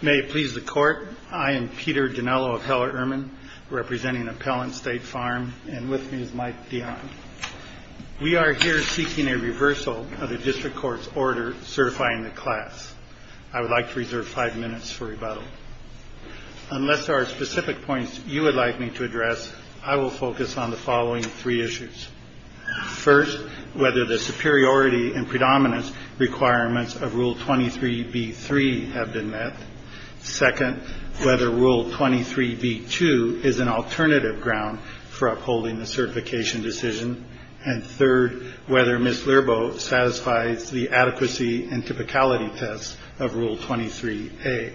May it please the Court, I am Peter Dinello of Heller-Urman, representing Appellant State Farm, and with me is Mike Dion. We are here seeking a reversal of the District Court's order certifying the class. I would like to reserve five minutes for rebuttal. Unless there are specific points you would like me to address, I will focus on the following three issues. First, whether the superiority and predominance requirements of Rule 23b-3 have been met. Second, whether Rule 23b-2 is an alternative ground for upholding the certification decision. And third, whether Ms. Lierboe satisfies the adequacy and typicality tests of Rule 23a.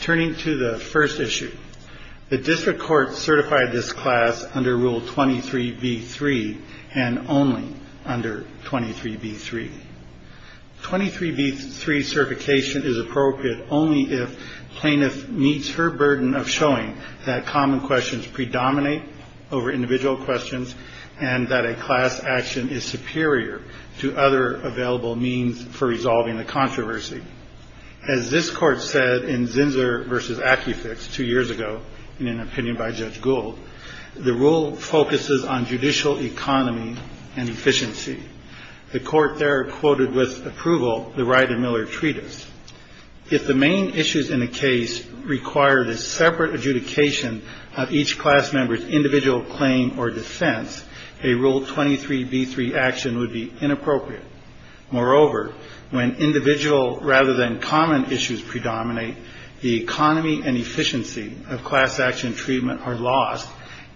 Turning to the first issue, the District Court certified this class under Rule 23b-3 and only under 23b-3. 23b-3 certification is appropriate only if plaintiff meets her burden of showing that common questions predominate over individual questions and that a class action is superior to other available means for resolving the controversy. As this Court said in Zinsser v. Acufix two years ago, in an opinion by Judge Gould, the Rule focuses on judicial economy and efficiency. The Court there quoted with approval the Wright and Miller Treatise. If the main issues in the case require the separate adjudication of each class member's individual claim or defense, a Rule 23b-3 action would be inappropriate. Moreover, when individual rather than common issues predominate, the economy and efficiency of class action treatment are lost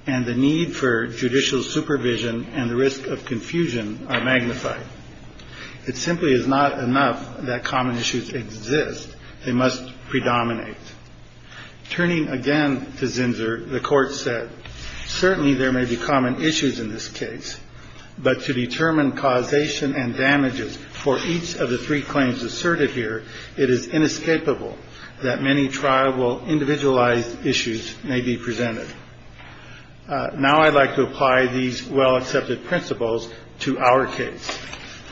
and the need for judicial supervision and the risk of confusion are magnified. It simply is not enough that common issues exist. They must predominate. Turning again to Zinsser, the Court said, Certainly there may be common issues in this case, but to determine causation and damages for each of the three claims asserted here, it is inescapable that many tribal individualized issues may be presented. Now I'd like to apply these well-accepted principles to our case.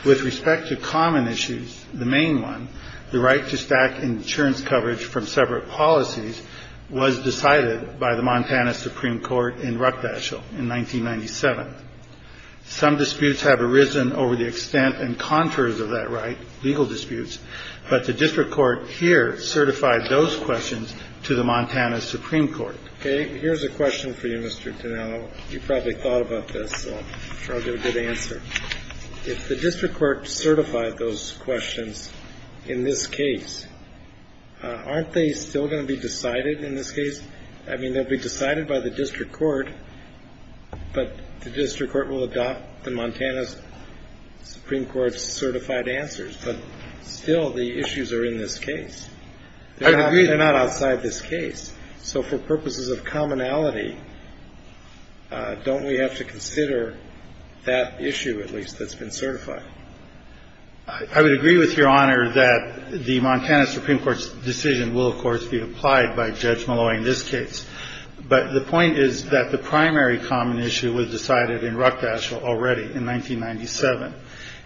With respect to common issues, the main one, the right to stack insurance coverage from separate policies was decided by the Montana Supreme Court in Ruckdaschel in 1997. Some disputes have arisen over the extent and contours of that right, legal disputes, but the district court here certified those questions to the Montana Supreme Court. Okay. Here's a question for you, Mr. Tonello. You probably thought about this, so I'm sure I'll get a good answer. If the district court certified those questions in this case, aren't they still going to be decided in this case? I mean, they'll be decided by the district court, but the district court will adopt the Montana Supreme Court's certified answers. But still, the issues are in this case. I agree. They're not outside this case. So for purposes of commonality, don't we have to consider that issue, at least, that's been certified? I would agree with Your Honor that the Montana Supreme Court's decision will, of course, be applied by Judge Malloy in this case. But the point is that the primary common issue was decided in Ruckdaschel already in 1997.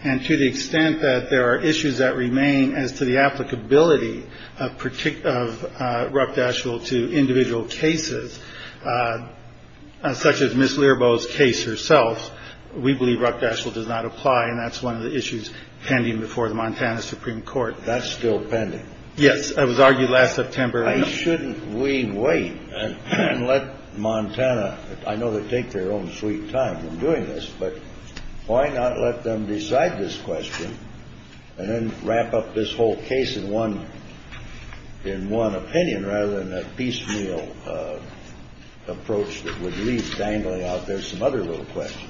And to the extent that there are issues that remain as to the applicability of Ruckdaschel to individual cases, such as Ms. Learbow's case herself, we believe Ruckdaschel does not apply, and that's one of the issues pending before the Montana Supreme Court. That's still pending? Yes. It was argued last September. Why shouldn't we wait and let Montana, I know they take their own sweet time in doing this, but why not let them decide this question and then wrap up this whole case in one opinion rather than a piecemeal approach that would leave dangling out there some other little questions?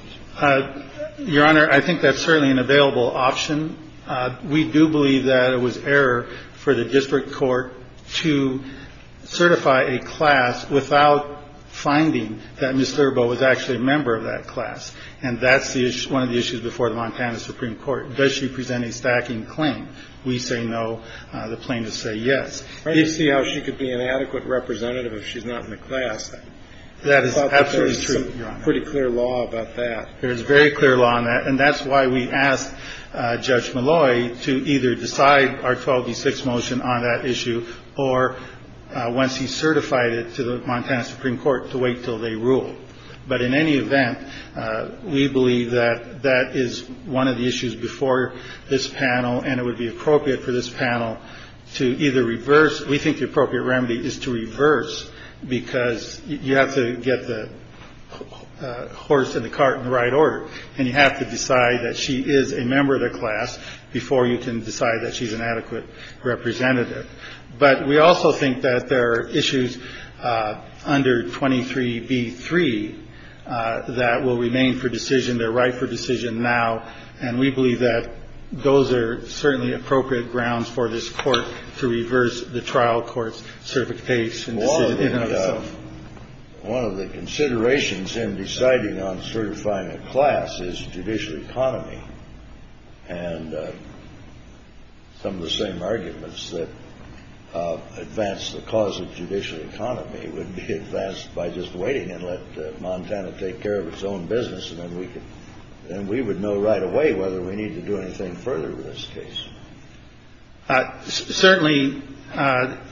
Your Honor, I think that's certainly an available option. We do believe that it was error for the district court to certify a class without finding that Ms. Learbow was actually a member of that class. And that's one of the issues before the Montana Supreme Court. Does she present a stacking claim? We say no. The plaintiffs say yes. You see how she could be an adequate representative if she's not in the class. That is absolutely true. I thought there was pretty clear law about that. There is very clear law on that. And that's why we asked Judge Malloy to either decide our 12D6 motion on that issue or once he certified it to the Montana Supreme Court to wait until they rule. But in any event, we believe that that is one of the issues before this panel, and it would be appropriate for this panel to either reverse. We think the appropriate remedy is to reverse because you have to get the horse in the cart in the right order, and you have to decide that she is a member of the class before you can decide that she's an adequate representative. But we also think that there are issues under 23B3 that will remain for decision. They're right for decision now. And we believe that those are certainly appropriate grounds for this court to reverse the trial court's certification. One of the considerations in deciding on certifying a class is judicial economy. And some of the same arguments that advance the cause of judicial economy would be advanced by just waiting and let Montana take care of its own business. And then we can then we would know right away whether we need to do anything further with this case. Certainly,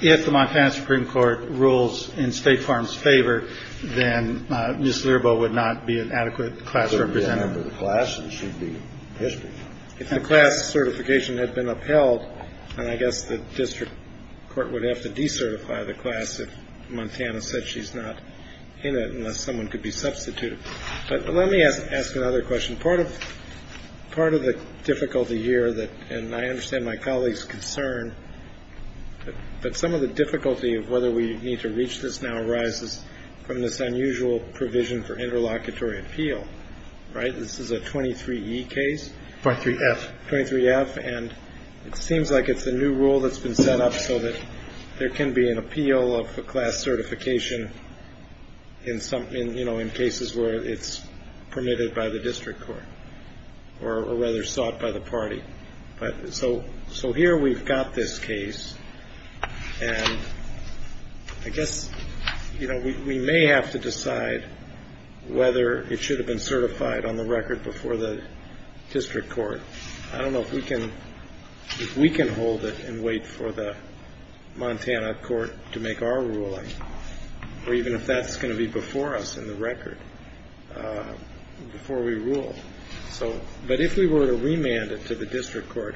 if the Montana Supreme Court rules in State Farm's favor, then Ms. Learboe would not be an adequate class representative. If the class certification had been upheld, then I guess the district court would have to decertify the class if Montana said she's not in it, unless someone could be substituted. But let me ask another question. Part of part of the difficulty here that and I understand my colleagues concern, but some of the difficulty of whether we need to reach this now arises from this unusual provision for interlocutory appeal. Right. This is a 23E case. 23F. 23F. And it seems like it's a new rule that's been set up so that there can be an appeal of a class certification in some, you know, in cases where it's permitted by the district court or rather sought by the party. But so so here we've got this case. And I guess, you know, we may have to decide whether it should have been certified on the record before the district court. I don't know if we can if we can hold it and wait for the Montana court to make our ruling, or even if that's going to be before us in the record before we rule. So but if we were to remand it to the district court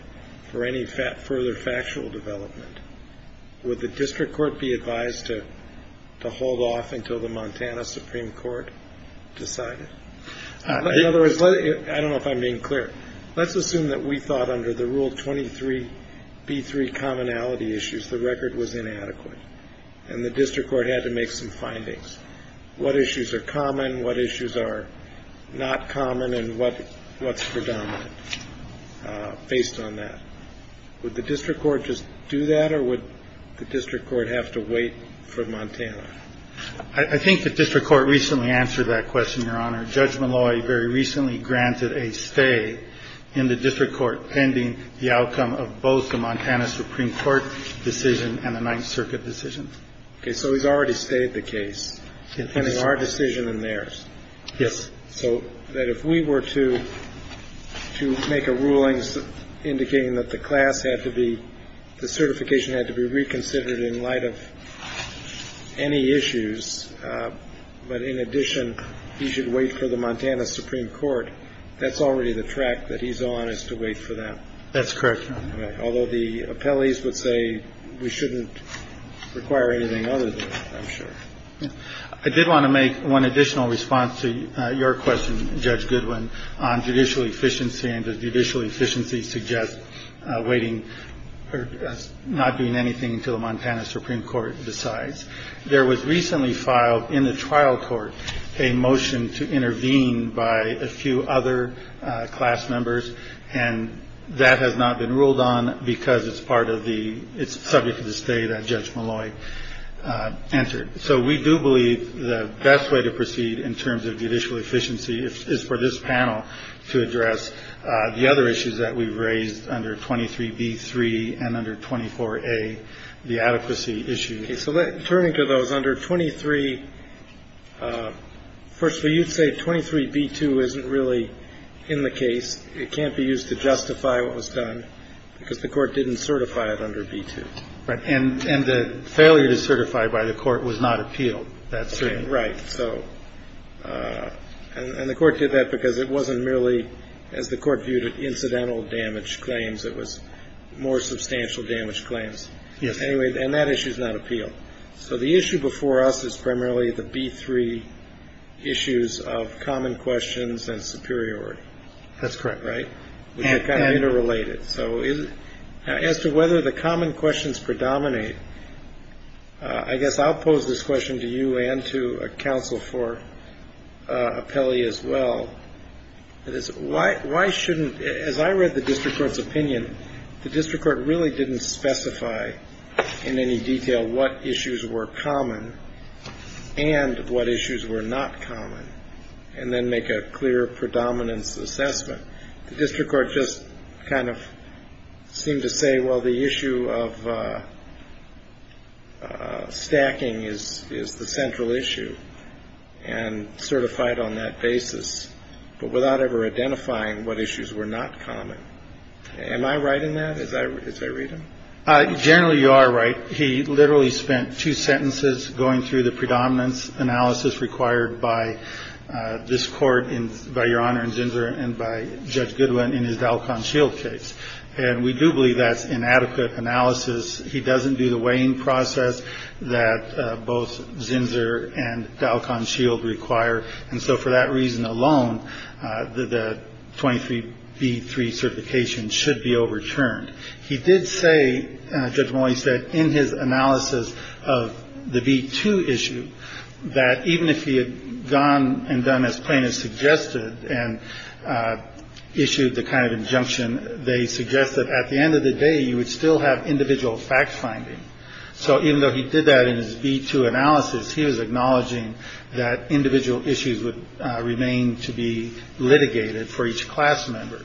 for any further factual development, would the district court be advised to hold off until the Montana Supreme Court decided? In other words, I don't know if I'm being clear. Let's assume that we thought under the rule 23B3 commonality issues, the record was inadequate and the district court had to make some findings. What issues are common, what issues are not common and what what's predominant based on that? Would the district court just do that or would the district court have to wait for Montana? I think the district court recently answered that question, Your Honor. Judge Malloy very recently granted a stay in the district court pending the outcome of both the Montana Supreme Court decision and the Ninth Circuit decision. So he's already stayed the case in our decision and theirs. Yes. So that if we were to to make a ruling indicating that the class had to be the certification had to be reconsidered in light of any issues. But in addition, he should wait for the Montana Supreme Court. That's already the track that he's on is to wait for that. That's correct. Although the appellees would say we shouldn't require anything other than I'm sure. I did want to make one additional response to your question. Judge Goodwin on judicial efficiency and judicial efficiency suggest waiting or not doing anything until the Montana Supreme Court decides. There was recently filed in the trial court a motion to intervene by a few other class members. And that has not been ruled on because it's part of the it's subject to the state. Judge Malloy answered. So we do believe the best way to proceed in terms of judicial efficiency is for this panel to address the other issues that we've raised under 23, B3 and under 24, a the adequacy issue. So let's turn to those under 23. Firstly, you'd say 23 B2 isn't really in the case. It can't be used to justify what was done because the court didn't certify it under B2. Right. And the failure to certify by the court was not appealed. That's right. So and the court did that because it wasn't merely, as the court viewed it, incidental damage claims. It was more substantial damage claims. Yes. And that issue is not appealed. So the issue before us is primarily the B3 issues of common questions and superiority. That's correct. Right. Interrelated. So is it as to whether the common questions predominate? I guess I'll pose this question to you and to a counsel for a Pele as well. Why why shouldn't as I read the district court's opinion, the district court really didn't specify in any detail what issues were common and what issues were not common and then make a clear predominance assessment. The district court just kind of seemed to say, well, the issue of stacking is is the central issue and certified on that basis. But without ever identifying what issues were not common. Am I right in that? As I read him. Generally, you are right. He literally spent two sentences going through the predominance analysis required by this court and by Your Honor and Ginger and by Judge Goodwin in his shield case. And we do believe that's inadequate analysis. He doesn't do the weighing process that both Zinsser and Dalcon Shield require. And so for that reason alone, the twenty three B3 certification should be overturned. He did say, Judge Moyes said in his analysis of the B2 issue that even if he had gone and done as plaintiffs suggested and issued the kind of injunction, they suggested at the end of the day, you would still have individual fact finding. So even though he did that in his B2 analysis, he was acknowledging that individual issues would remain to be litigated for each class member.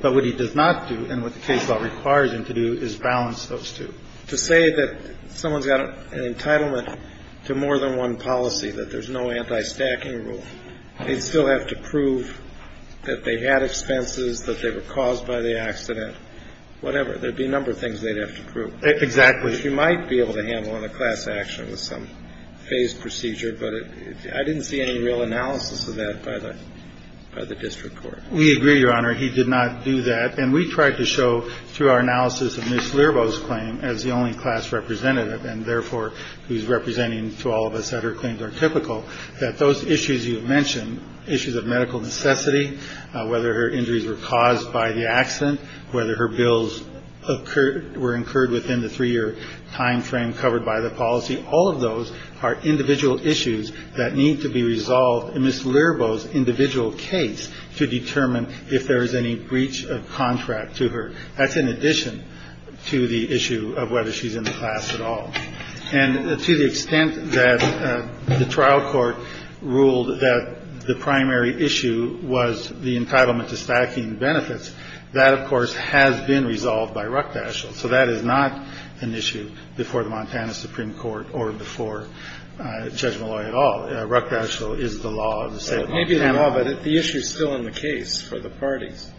But what he does not do and what the case law requires him to do is balance those two. To say that someone's got an entitlement to more than one policy, that there's no anti stacking rule, they'd still have to prove that they had expenses, that they were caused by the accident, whatever. There'd be a number of things they'd have to prove. Exactly. Which you might be able to handle in a class action with some phased procedure, but I didn't see any real analysis of that by the district court. We agree, Your Honor. He did not do that. And we tried to show through our analysis of Ms. Learboe's claim as the only class representative and therefore who's representing to all of us that her claims are typical, that those issues you mentioned, issues of medical necessity, whether her injuries were caused by the accident, whether her bills were incurred within the three-year time frame covered by the policy, all of those are individual issues that need to be resolved in Ms. Learboe's individual case to determine if there is any breach of contract to her. That's in addition to the issue of whether she's in the class at all. And to the extent that the trial court ruled that the primary issue was the entitlement to stacking benefits, that, of course, has been resolved by Ruckdaschel. So that is not an issue before the Montana Supreme Court or before Judge Malloy at all. Ruckdaschel is the law of the state of Montana. Maybe the law, but the issue is still in the case for the parties.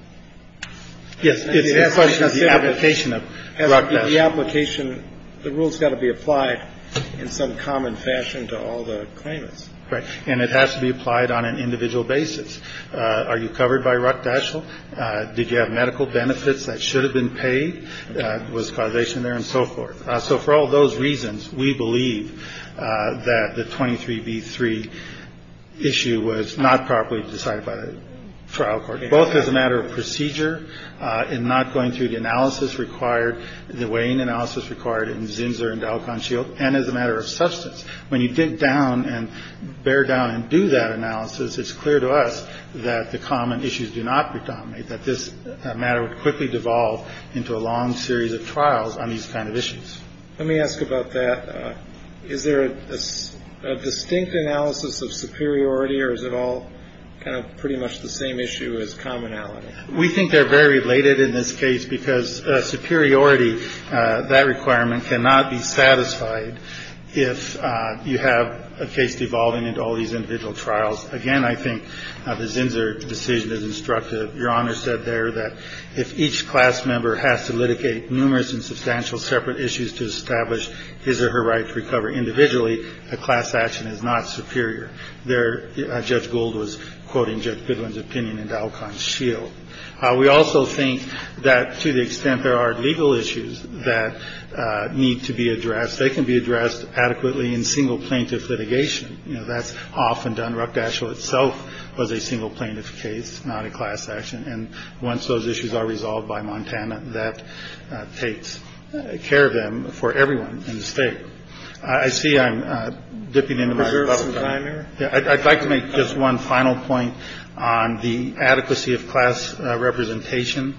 Yes. The application of Ruckdaschel. The rule's got to be applied in some common fashion to all the claimants. Right. And it has to be applied on an individual basis. Are you covered by Ruckdaschel? Did you have medical benefits that should have been paid? Was causation there and so forth? So for all those reasons, we believe that the 23B3 issue was not properly decided by the trial court, both as a matter of procedure in not going through the analysis required, the weighing analysis required in Zinsser and Alcon Shield, and as a matter of substance. When you dig down and bear down and do that analysis, it's clear to us that the common issues do not predominate, that this matter would quickly devolve into a long series of trials on these kind of issues. Let me ask about that. Is there a distinct analysis of superiority or is it all kind of pretty much the same issue as commonality? We think they're very related in this case because superiority, that requirement, cannot be satisfied if you have a case devolving into all these individual trials. Again, I think the Zinsser decision is instructive. Your Honor said there that if each class member has to litigate numerous and substantial separate issues to establish his or her right to recover individually, a class action is not superior. Judge Gould was quoting Judge Goodwin's opinion in Alcon Shield. We also think that to the extent there are legal issues that need to be addressed, they can be addressed adequately in single plaintiff litigation. You know, that's often done. Ruckdaschel itself was a single plaintiff case, not a class action. And once those issues are resolved by Montana, that takes care of them for everyone in the state. I see I'm dipping into my level. I'd like to make just one final point on the adequacy of class representation.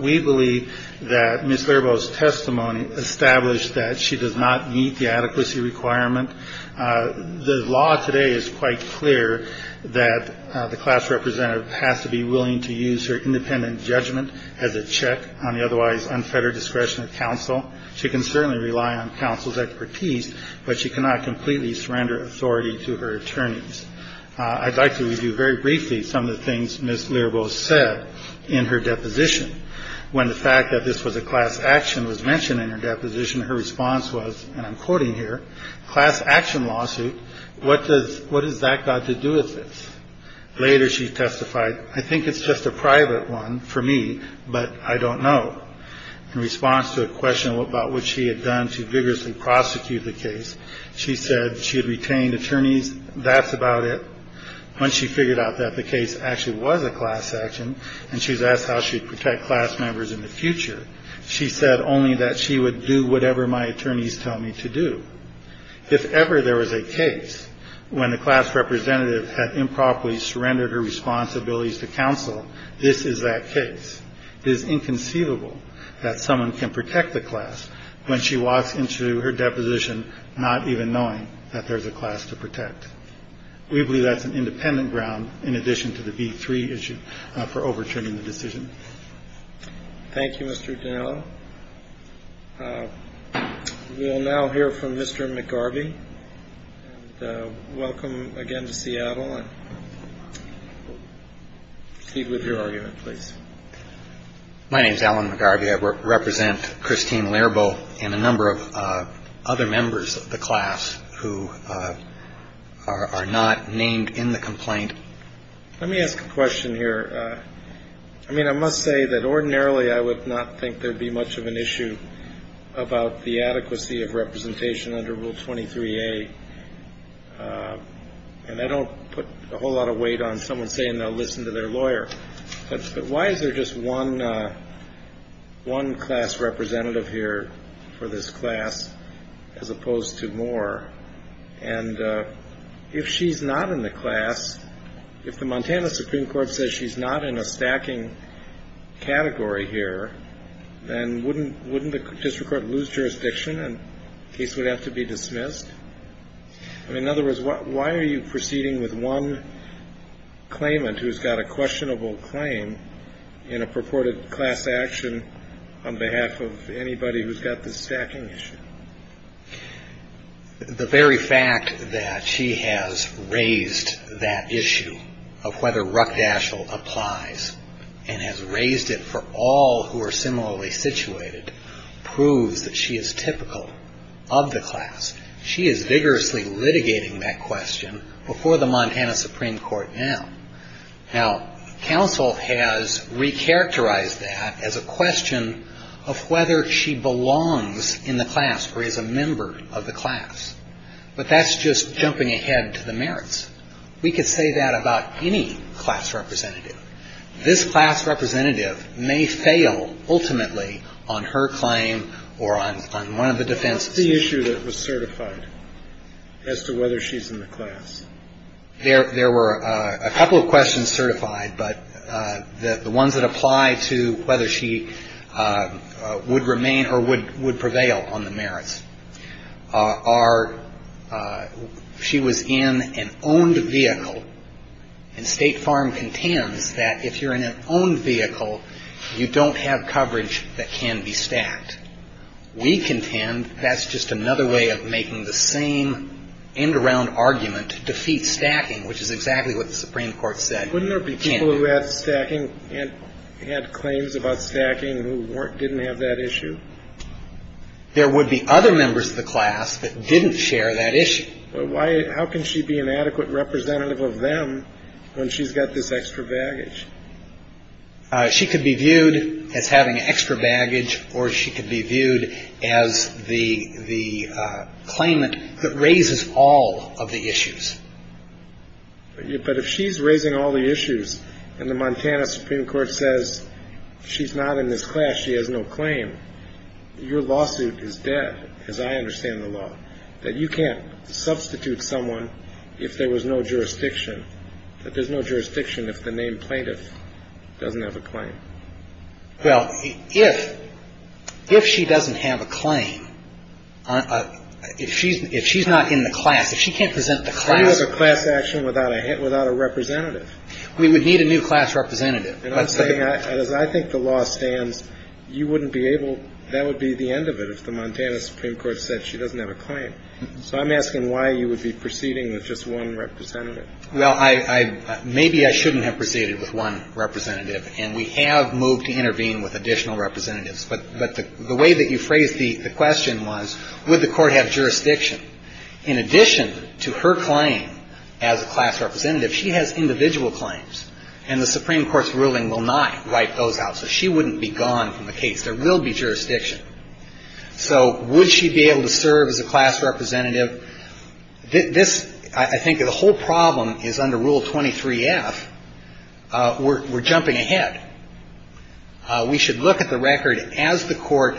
We believe that Ms. Lebo's testimony established that she does not meet the adequacy requirement. The law today is quite clear that the class representative has to be willing to use her independent judgment as a check on the otherwise unfettered discretion of counsel. She can certainly rely on counsel's expertise, but she cannot completely surrender authority to her attorneys. I'd like to review very briefly some of the things Ms. Lebo said in her deposition. When the fact that this was a class action was mentioned in her deposition, her response was, and I'm quoting here, class action lawsuit, what does that got to do with this? Later she testified, I think it's just a private one for me, but I don't know. In response to a question about what she had done to vigorously prosecute the case, she said she had retained attorneys. That's about it. Once she figured out that the case actually was a class action and she's asked how she'd protect class members in the future, she said only that she would do whatever my attorneys tell me to do. If ever there was a case when the class representative had improperly surrendered her responsibilities to counsel, this is that case. It is inconceivable that someone can protect the class when she walks into her deposition not even knowing that there's a class to protect. We believe that's an independent ground in addition to the B-3 issue for overturning the decision. Thank you, Mr. Dinello. We will now hear from Mr. McGarvey. Welcome again to Seattle. Speak with your argument, please. My name is Alan McGarvey. I represent Christine Lerbo and a number of other members of the class who are not named in the complaint. Let me ask a question here. I mean, I must say that ordinarily I would not think there'd be much of an issue about the adequacy of representation under Rule 23A. And I don't put a whole lot of weight on someone saying they'll listen to their lawyer. But why is there just one class representative here for this class as opposed to more? And if she's not in the class, if the Montana Supreme Court says she's not in a stacking category here, then wouldn't the district court lose jurisdiction and the case would have to be dismissed? In other words, why are you proceeding with one claimant who's got a questionable claim in a purported class action on behalf of anybody who's got this stacking issue? The very fact that she has raised that issue of whether ruckdashel applies and has raised it for all who are similarly situated proves that she is typical of the class. She is vigorously litigating that question before the Montana Supreme Court now. Now, counsel has recharacterized that as a question of whether she belongs in the class or is a member of the class. But that's just jumping ahead to the merits. We could say that about any class representative. This class representative may fail ultimately on her claim or on one of the defense. The issue that was certified as to whether she's in the class. There were a couple of questions certified, but the ones that apply to whether she would remain or would prevail on the merits are, she was in an owned vehicle and State Farm contends that if you're in an owned vehicle, you don't have coverage that can be stacked. We contend that's just another way of making the same end around argument to defeat stacking, which is exactly what the Supreme Court said. Wouldn't there be people who had stacking and had claims about stacking who weren't didn't have that issue? There would be other members of the class that didn't share that issue. Why? How can she be an adequate representative of them when she's got this extra baggage? She could be viewed as having extra baggage or she could be viewed as the the claimant that raises all of the issues. But if she's raising all the issues and the Montana Supreme Court says she's not in this class, she has no claim. Your lawsuit is dead, as I understand the law, that you can't substitute someone if there was no jurisdiction, that there's no jurisdiction if the name plaintiff doesn't have a claim. Well, if if she doesn't have a claim, if she's if she's not in the class, if she can't present the class as a class action without a hit, without a representative. We would need a new class representative. And I'm saying I think the law stands. You wouldn't be able. That would be the end of it if the Montana Supreme Court said she doesn't have a claim. So I'm asking why you would be proceeding with just one representative. Well, I maybe I shouldn't have proceeded with one representative. And we have moved to intervene with additional representatives. But but the way that you phrase the question was, would the court have jurisdiction in addition to her claim as a class representative? She has individual claims and the Supreme Court's ruling will not write those out. So she wouldn't be gone from the case. There will be jurisdiction. So would she be able to serve as a class representative? This I think the whole problem is under Rule 23 F. We're jumping ahead. We should look at the record as the court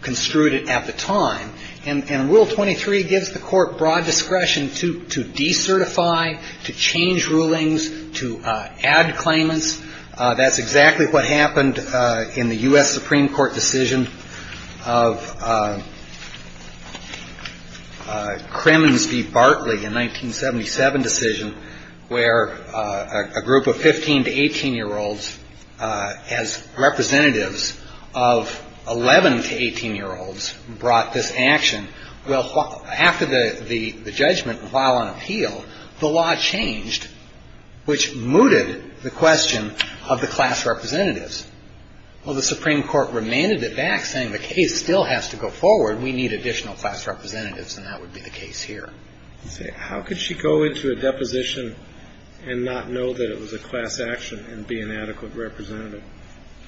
construed it at the time. And Rule 23 gives the court broad discretion to to decertify, to change rulings, to add claimants. That's exactly what happened in the U.S. Supreme Court decision of Kremens v. Barkley in 1977 decision, where a group of 15 to 18 year olds as representatives of 11 to 18 year olds brought this action. Well, after the judgment, while on appeal, the law changed, which mooted the question of the class representatives. Well, the Supreme Court remanded it back saying the case still has to go forward. We need additional class representatives. And that would be the case here. How could she go into a deposition and not know that it was a class action and be an adequate representative?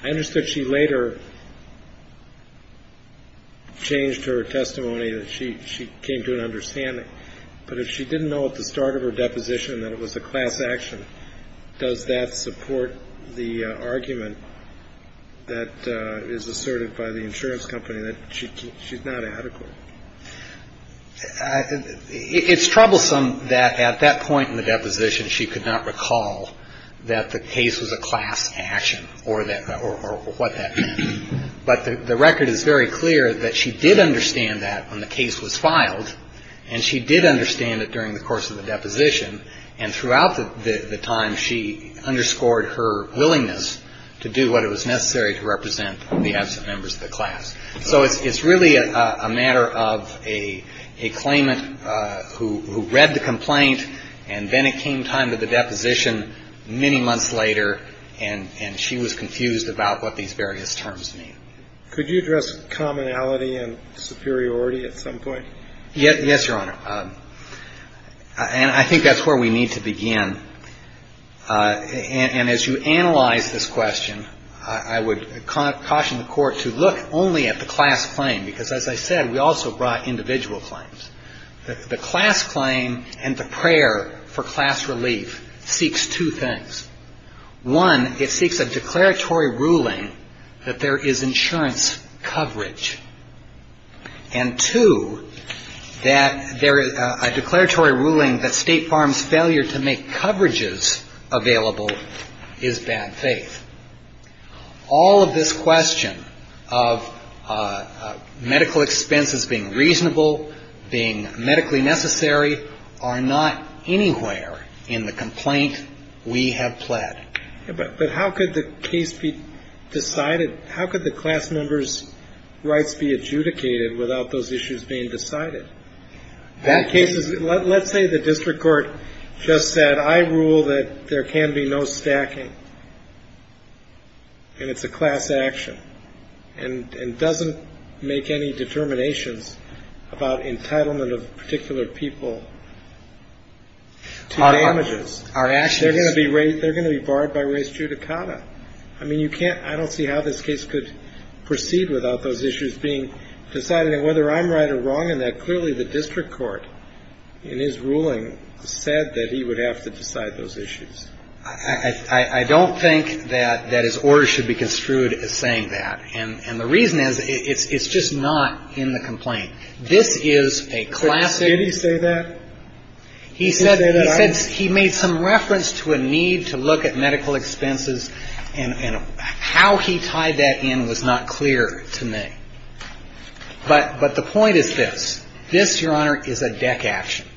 I understood she later changed her testimony that she came to an understanding. But if she didn't know at the start of her deposition that it was a class action, does that support the argument that is asserted by the insurance company that she's not adequate? It's troublesome that at that point in the deposition, she could not recall that the case was a class action or what that meant. But the record is very clear that she did understand that when the case was filed, and she did understand it during the course of the deposition. And throughout the time, she underscored her willingness to do what it was necessary to represent the absent members of the class. So it's really a matter of a claimant who read the complaint, and then it came time to the deposition many months later, and she was confused about what these various terms mean. Could you address commonality and superiority at some point? Yes, Your Honor. And I think that's where we need to begin. And as you analyze this question, I would caution the Court to look only at the class claim, because as I said, we also brought individual claims. The class claim and the prayer for class relief seeks two things. One, it seeks a declaratory ruling that there is insurance coverage. And two, that there is a declaratory ruling that State Farm's failure to make coverages available is bad faith. All of this question of medical expenses being reasonable, being medically necessary, are not anywhere in the complaint we have pled. But how could the case be decided? How could the class member's rights be adjudicated without those issues being decided? Let's say the district court just said, I rule that there can be no stacking, and it's a class action, and doesn't make any determinations about entitlement of particular people to damages. They're going to be barred by res judicata. I don't see how this case could proceed without those issues being decided. And whether I'm right or wrong in that, clearly the district court in his ruling said that he would have to decide those issues. I don't think that his order should be construed as saying that. And the reason is, it's just not in the complaint. This is a classic. He made some reference to a need to look at medical expenses, and how he tied that in was not clear to me. But the point is this. This, Your Honor, is a deck action.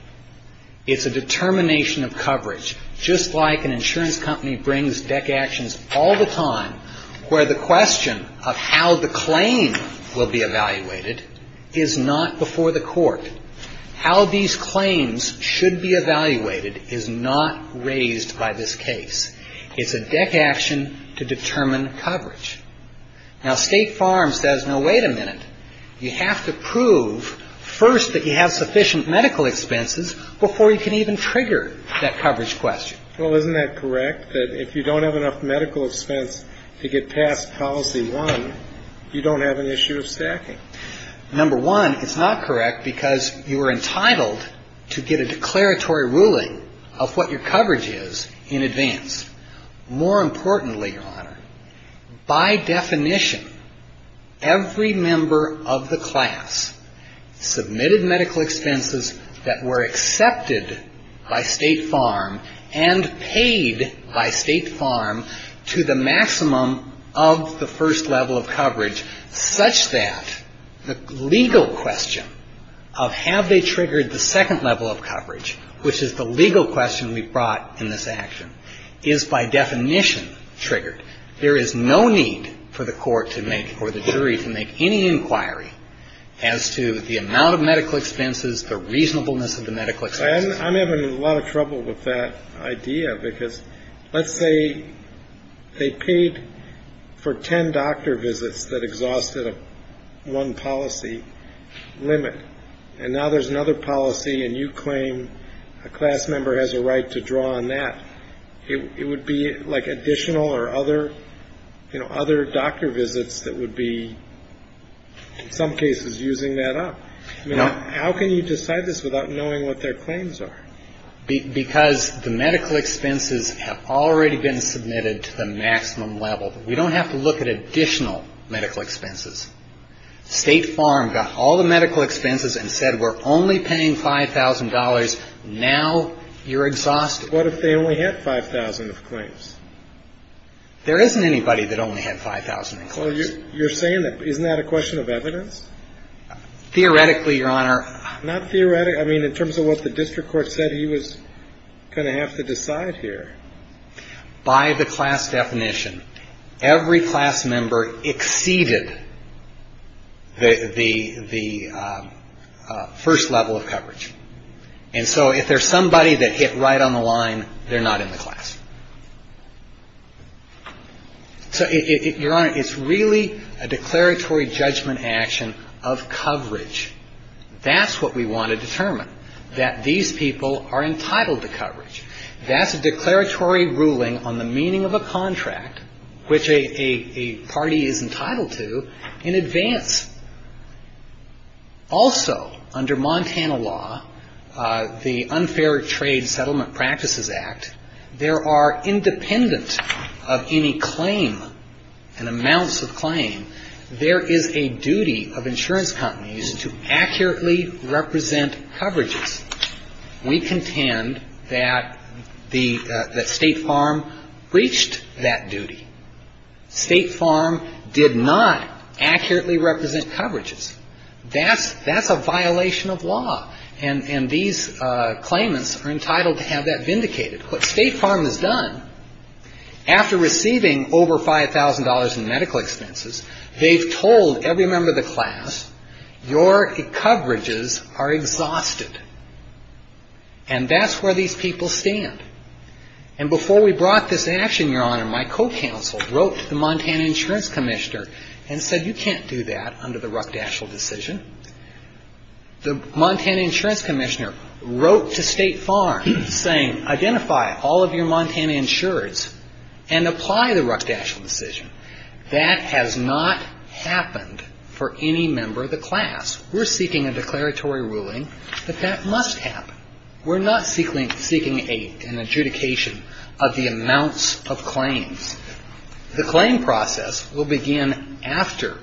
It's a determination of coverage, just like an insurance company brings deck actions all the time, where the question of how the claim will be evaluated is not before the court. How these claims should be evaluated is not raised by this case. It's a deck action to determine coverage. Now, State Farms says, no, wait a minute. You have to prove first that you have sufficient medical expenses before you can even trigger that coverage question. Well, isn't that correct, that if you don't have enough medical expense to get past policy one, you don't have an issue of stacking? Number one, it's not correct because you are entitled to get a declaratory ruling of what your coverage is in advance. More importantly, Your Honor, by definition, every member of the class submitted medical expenses that were accepted by State Farm and paid by State Farm to the maximum of the first level of coverage, such that the legal question of have they triggered the second level of coverage, which is the legal question we brought in this action, is by definition triggered. There is no need for the court to make or the jury to make any inquiry as to the amount of medical expenses, the reasonableness of the medical expenses. I'm having a lot of trouble with that idea, because let's say they paid for ten doctor visits that exhausted one policy limit, and now there's another policy and you claim a class member has a right to draw on that. It would be like additional or other doctor visits that would be, in some cases, using that up. How can you decide this without knowing what their claims are? Because the medical expenses have already been submitted to the maximum level. We don't have to look at additional medical expenses. State Farm got all the medical expenses and said we're only paying $5,000. Now you're exhausted. What if they only had $5,000 of claims? There isn't anybody that only had $5,000 of claims. Well, you're saying that, isn't that a question of evidence? Theoretically, Your Honor. Not theoretically, I mean in terms of what the district court said, he was going to have to decide here. By the class definition, every class member exceeded the first level of coverage. And so if there's somebody that hit right on the line, they're not in the class. So, Your Honor, it's really a declaratory judgment action of coverage. That's what we want to determine, that these people are entitled to coverage. That's a declaratory ruling on the meaning of a contract, which a party is entitled to, in advance. Also, under Montana law, the Unfair Trade Settlement Practices Act, there are, independent of any claim, and amounts of claim, there is a duty of insurance companies to accurately represent coverages. We contend that State Farm breached that duty. State Farm did not accurately represent coverages. That's a violation of law. And these claimants are entitled to have that vindicated. What State Farm has done, after receiving over $5,000 in medical expenses, they've told every member of the class, your coverages are exhausted. And that's where these people stand. And before we brought this action, Your Honor, my co-counsel wrote to the Montana Insurance Commissioner and said, you can't do that under the Ruckdashel decision. The Montana Insurance Commissioner wrote to State Farm saying, identify all of your Montana insurers and apply the Ruckdashel decision. That has not happened for any member of the class. We're seeking a declaratory ruling that that must happen. We're not seeking an adjudication of the amounts of claims. The claim process will begin after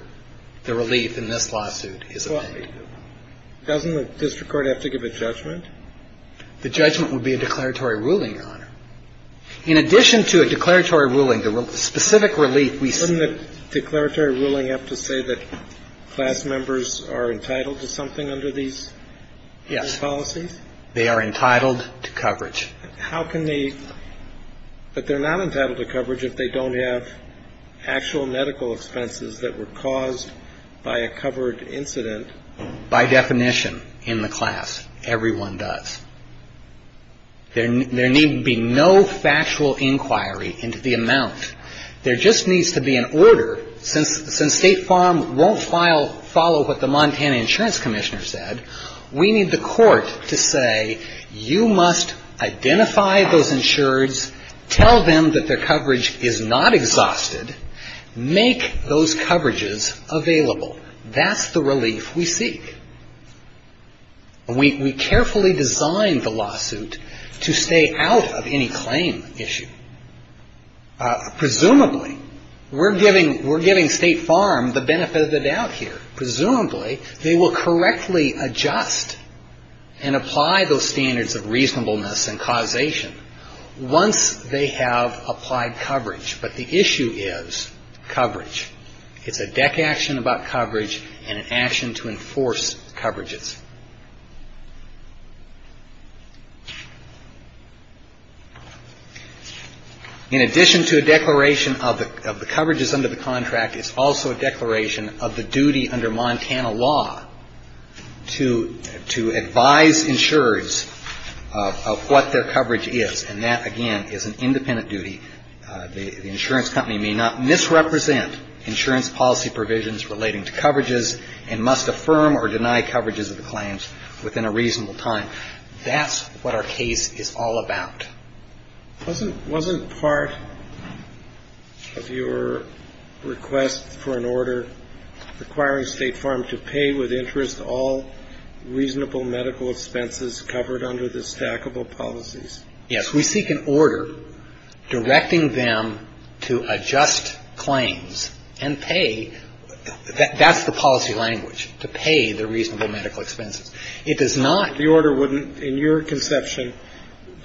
the relief in this lawsuit is obtained. Doesn't the district court have to give a judgment? The judgment would be a declaratory ruling, Your Honor. In addition to a declaratory ruling, the specific relief we seek. Doesn't the declaratory ruling have to say that class members are entitled to something under these policies? They are entitled to coverage. But they're not entitled to coverage if they don't have actual medical expenses that were caused by a covered incident. By definition, in the class, everyone does. There need be no factual inquiry into the amount. There just needs to be an order. Since State Farm won't follow what the Montana Insurance Commissioner said, we need the court to say you must identify those insureds, tell them that their coverage is not exhausted, make those coverages available. That's the relief we seek. We carefully designed the lawsuit to stay out of any claim issue. Presumably, we're giving State Farm the benefit of the doubt here. Presumably, they will correctly adjust and apply those standards of reasonableness and causation once they have applied coverage. But the issue is coverage. It's a deck action about coverage and an action to enforce coverages. In addition to a declaration of the coverages under the contract, it's also a declaration of the duty under Montana law to advise insurers of what their coverage is. And that, again, is an independent duty. The insurance company may not misrepresent insurance policy provisions relating to coverages and must affirm or deny coverages of the claims within a reasonable time. That's what our case is all about. Wasn't part of your request for an order requiring State Farm to pay with interest all reasonable medical expenses covered under the stackable policies? Yes. We seek an order directing them to adjust claims and pay. That's the policy language, to pay the reasonable medical expenses. It does not. The order wouldn't, in your conception,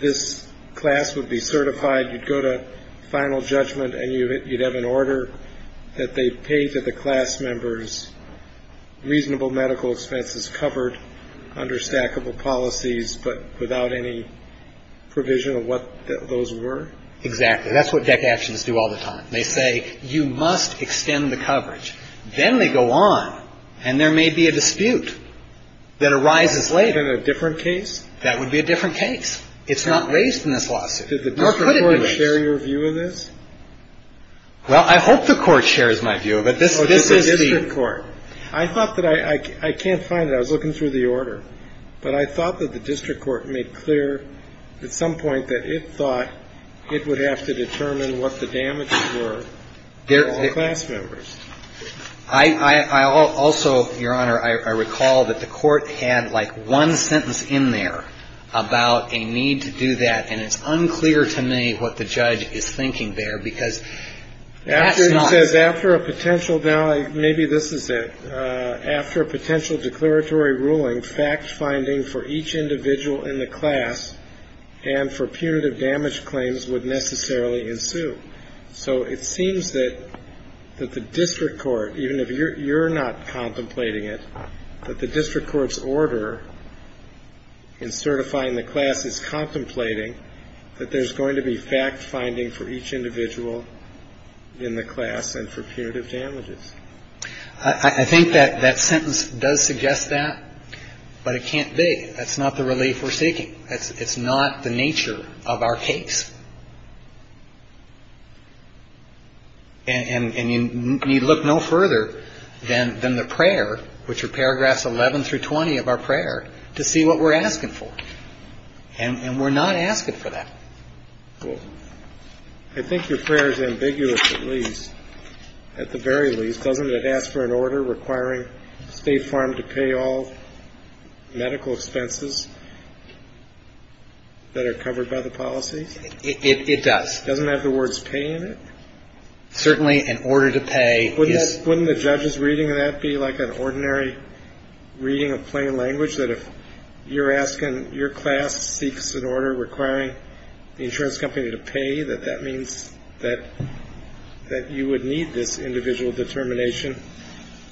this class would be certified, you'd go to final judgment, and you'd have an order that they'd pay to the class members reasonable medical expenses covered under stackable policies, but without any provision of what those were? Exactly. That's what deck actions do all the time. They say you must extend the coverage. Then they go on, and there may be a dispute that arises later. In a different case? That would be a different case. It's not raised in this lawsuit. Nor could it be raised. Did the district court share your view of this? Well, I hope the court shares my view of it. This is the district court. I thought that I can't find it. I was looking through the order. But I thought that the district court made clear at some point that it thought it would have to determine what the damages were for all class members. I also, Your Honor, I recall that the court had like one sentence in there about a need to do that, and it's unclear to me what the judge is thinking there, because that's not. He says after a potential, now maybe this is it, after a potential declaratory ruling, for each individual in the class and for punitive damage claims would necessarily ensue. So it seems that the district court, even if you're not contemplating it, that the district court's order in certifying the class is contemplating that there's going to be fact-finding for each individual in the class and for punitive damages. I think that that sentence does suggest that. But it can't be. That's not the relief we're seeking. It's not the nature of our case. And you need look no further than the prayer, which are paragraphs 11 through 20 of our prayer, to see what we're asking for. And we're not asking for that. I think your prayer is ambiguous, at least, at the very least. Doesn't it ask for an order requiring State Farm to pay all medical expenses that are covered by the policies? It does. Doesn't it have the words pay in it? Certainly, an order to pay. Wouldn't the judge's reading of that be like an ordinary reading of plain language, that if you're asking your class seeks an order requiring the insurance company to pay, that that means that you would need this individual determination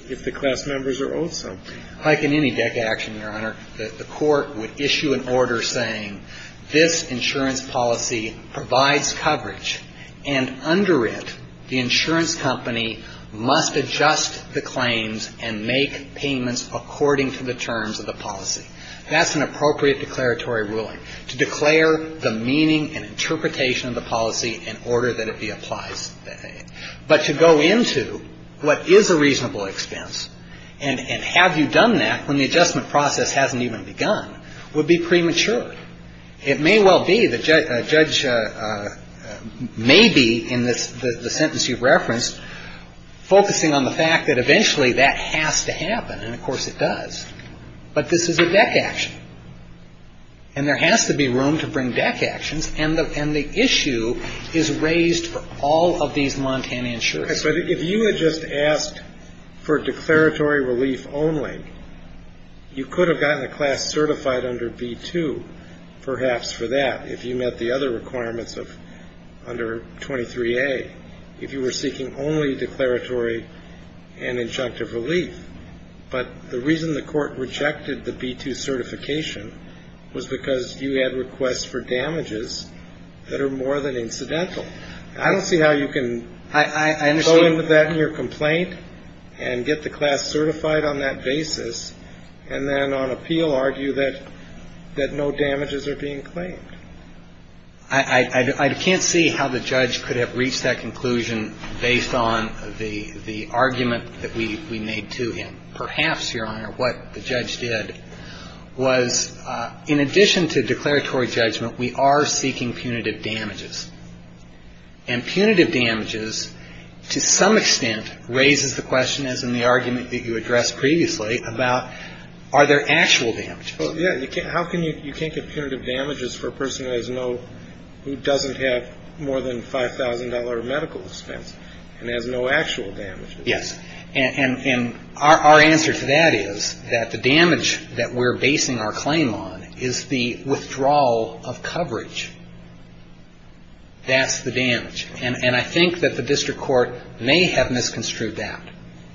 if the class members are owed some? Like in any deck action, Your Honor, the court would issue an order saying this insurance policy provides coverage, and under it, the insurance company must adjust the claims and make payments according to the terms of the policy. That's an appropriate declaratory ruling, to declare the meaning and interpretation of the policy in order that it be applies. But to go into what is a reasonable expense, and have you done that when the adjustment process hasn't even begun, would be premature. It may well be that a judge may be, in the sentence you've referenced, focusing on the fact that eventually that has to happen, and of course it does. But this is a deck action, and there has to be room to bring deck actions, and the issue is raised for all of these Montana insurers. So if you had just asked for declaratory relief only, you could have gotten a class certified under B-2, perhaps for that, if you met the other requirements of under 23A, if you were seeking only declaratory and injunctive relief. But the reason the court rejected the B-2 certification was because you had requests for damages that are more than incidental. I don't see how you can go into that in your complaint and get the class certified on that basis, and then on appeal argue that no damages are being claimed. I can't see how the judge could have reached that conclusion based on the argument that we made to him. Perhaps, Your Honor, what the judge did was, in addition to declaratory judgment, we are seeking punitive damages, and punitive damages, to some extent, raises the question, as in the argument that you addressed previously, about are there actual damages? Well, yeah. You can't get punitive damages for a person who doesn't have more than $5,000 medical expense and has no actual damages. Yes. And our answer to that is that the damage that we're basing our claim on is the withdrawal of coverage. That's the damage. And I think that the district court may have misconstrued that.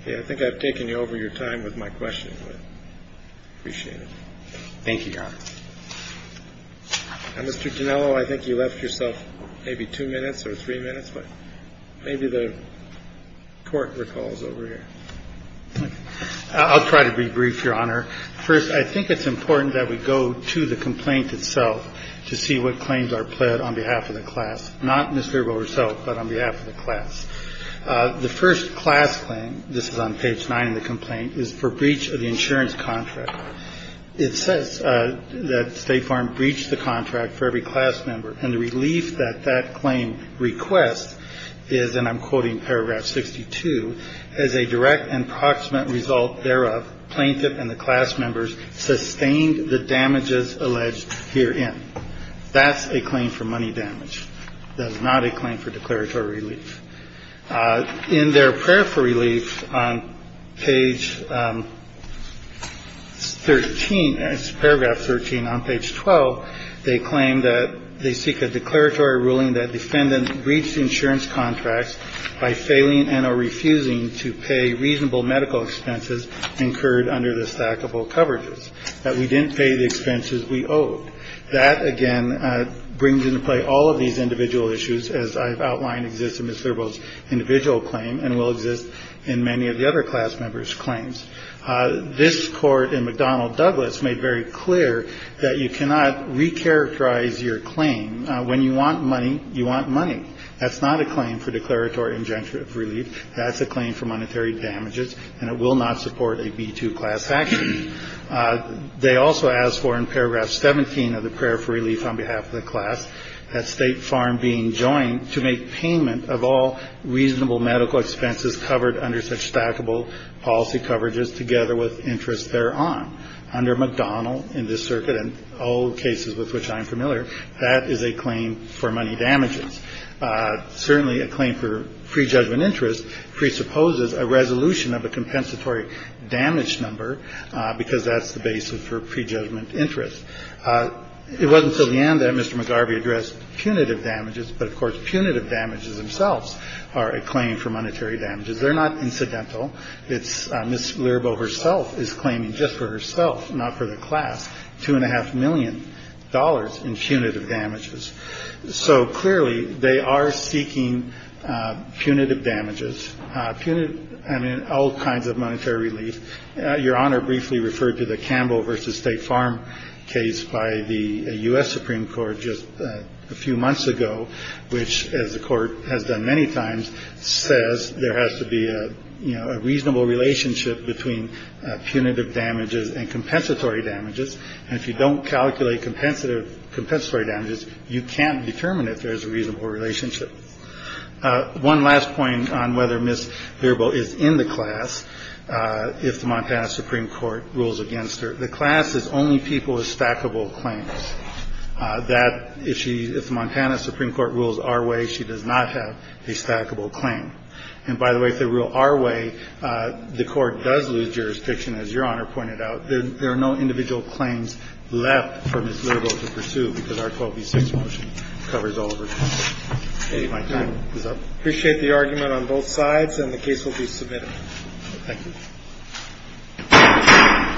I think I've taken you over your time with my questions, but I appreciate it. Thank you, Your Honor. Mr. Ginello, I think you left yourself maybe two minutes or three minutes, but maybe the court recalls over here. I'll try to be brief, Your Honor. First, I think it's important that we go to the complaint itself to see what claims are pled on behalf of the class, not Ms. Verbo herself, but on behalf of the class. The first class claim, this is on page 9 of the complaint, is for breach of the insurance contract. It says that State Farm breached the contract for every class member. And the relief that that claim requests is, and I'm quoting paragraph 62, as a direct and proximate result thereof, plaintiff and the class members sustained the damages alleged herein. That's a claim for money damage. That is not a claim for declaratory relief. In their prayer for relief on page 13, paragraph 13 on page 12, they claim that they seek a declaratory ruling that defendant breached insurance contracts by failing and or refusing to pay reasonable medical expenses incurred under the stackable coverages, that we didn't pay the expenses we owed. That, again, brings into play all of these individual issues, as I've outlined, exists in Ms. Verbo's individual claim and will exist in many of the other class members' claims. This court in McDonnell Douglas made very clear that you cannot recharacterize your claim. When you want money, you want money. That's not a claim for declaratory injunctive relief. That's a claim for monetary damages, and it will not support a B-2 class action. They also ask for, in paragraph 17 of the prayer for relief on behalf of the class, that State Farm being joined to make payment of all reasonable medical expenses covered under such stackable policy coverages together with interest thereon. Under McDonnell, in this circuit, and all cases with which I am familiar, that is a claim for money damages. Certainly a claim for prejudgment interest presupposes a resolution of a compensatory damage number, because that's the basis for prejudgment interest. It wasn't until the end that Mr. McGarvey addressed punitive damages, but, of course, punitive damages themselves are a claim for monetary damages. They're not incidental. It's Ms. Verbo herself is claiming just for herself, not for the class, $2.5 million in punitive damages. So, clearly, they are seeking punitive damages, all kinds of monetary relief. Your Honor briefly referred to the Campbell v. State Farm case by the U.S. Supreme Court just a few months ago, which, as the court has done many times, says there has to be a reasonable relationship between punitive damages and compensatory damages. And if you don't calculate compensatory damages, you can't determine if there is a reasonable relationship. One last point on whether Ms. Verbo is in the class, if the Montana Supreme Court rules against her. The class is only people with stackable claims. That, if she, if the Montana Supreme Court rules our way, she does not have a stackable claim. And, by the way, if they rule our way, the court does lose jurisdiction, as Your Honor pointed out. There are no individual claims left for Ms. Verbo to pursue, because our 12B6 motion covers all of her claims. If my time is up. I appreciate the argument on both sides, and the case will be submitted. Thank you.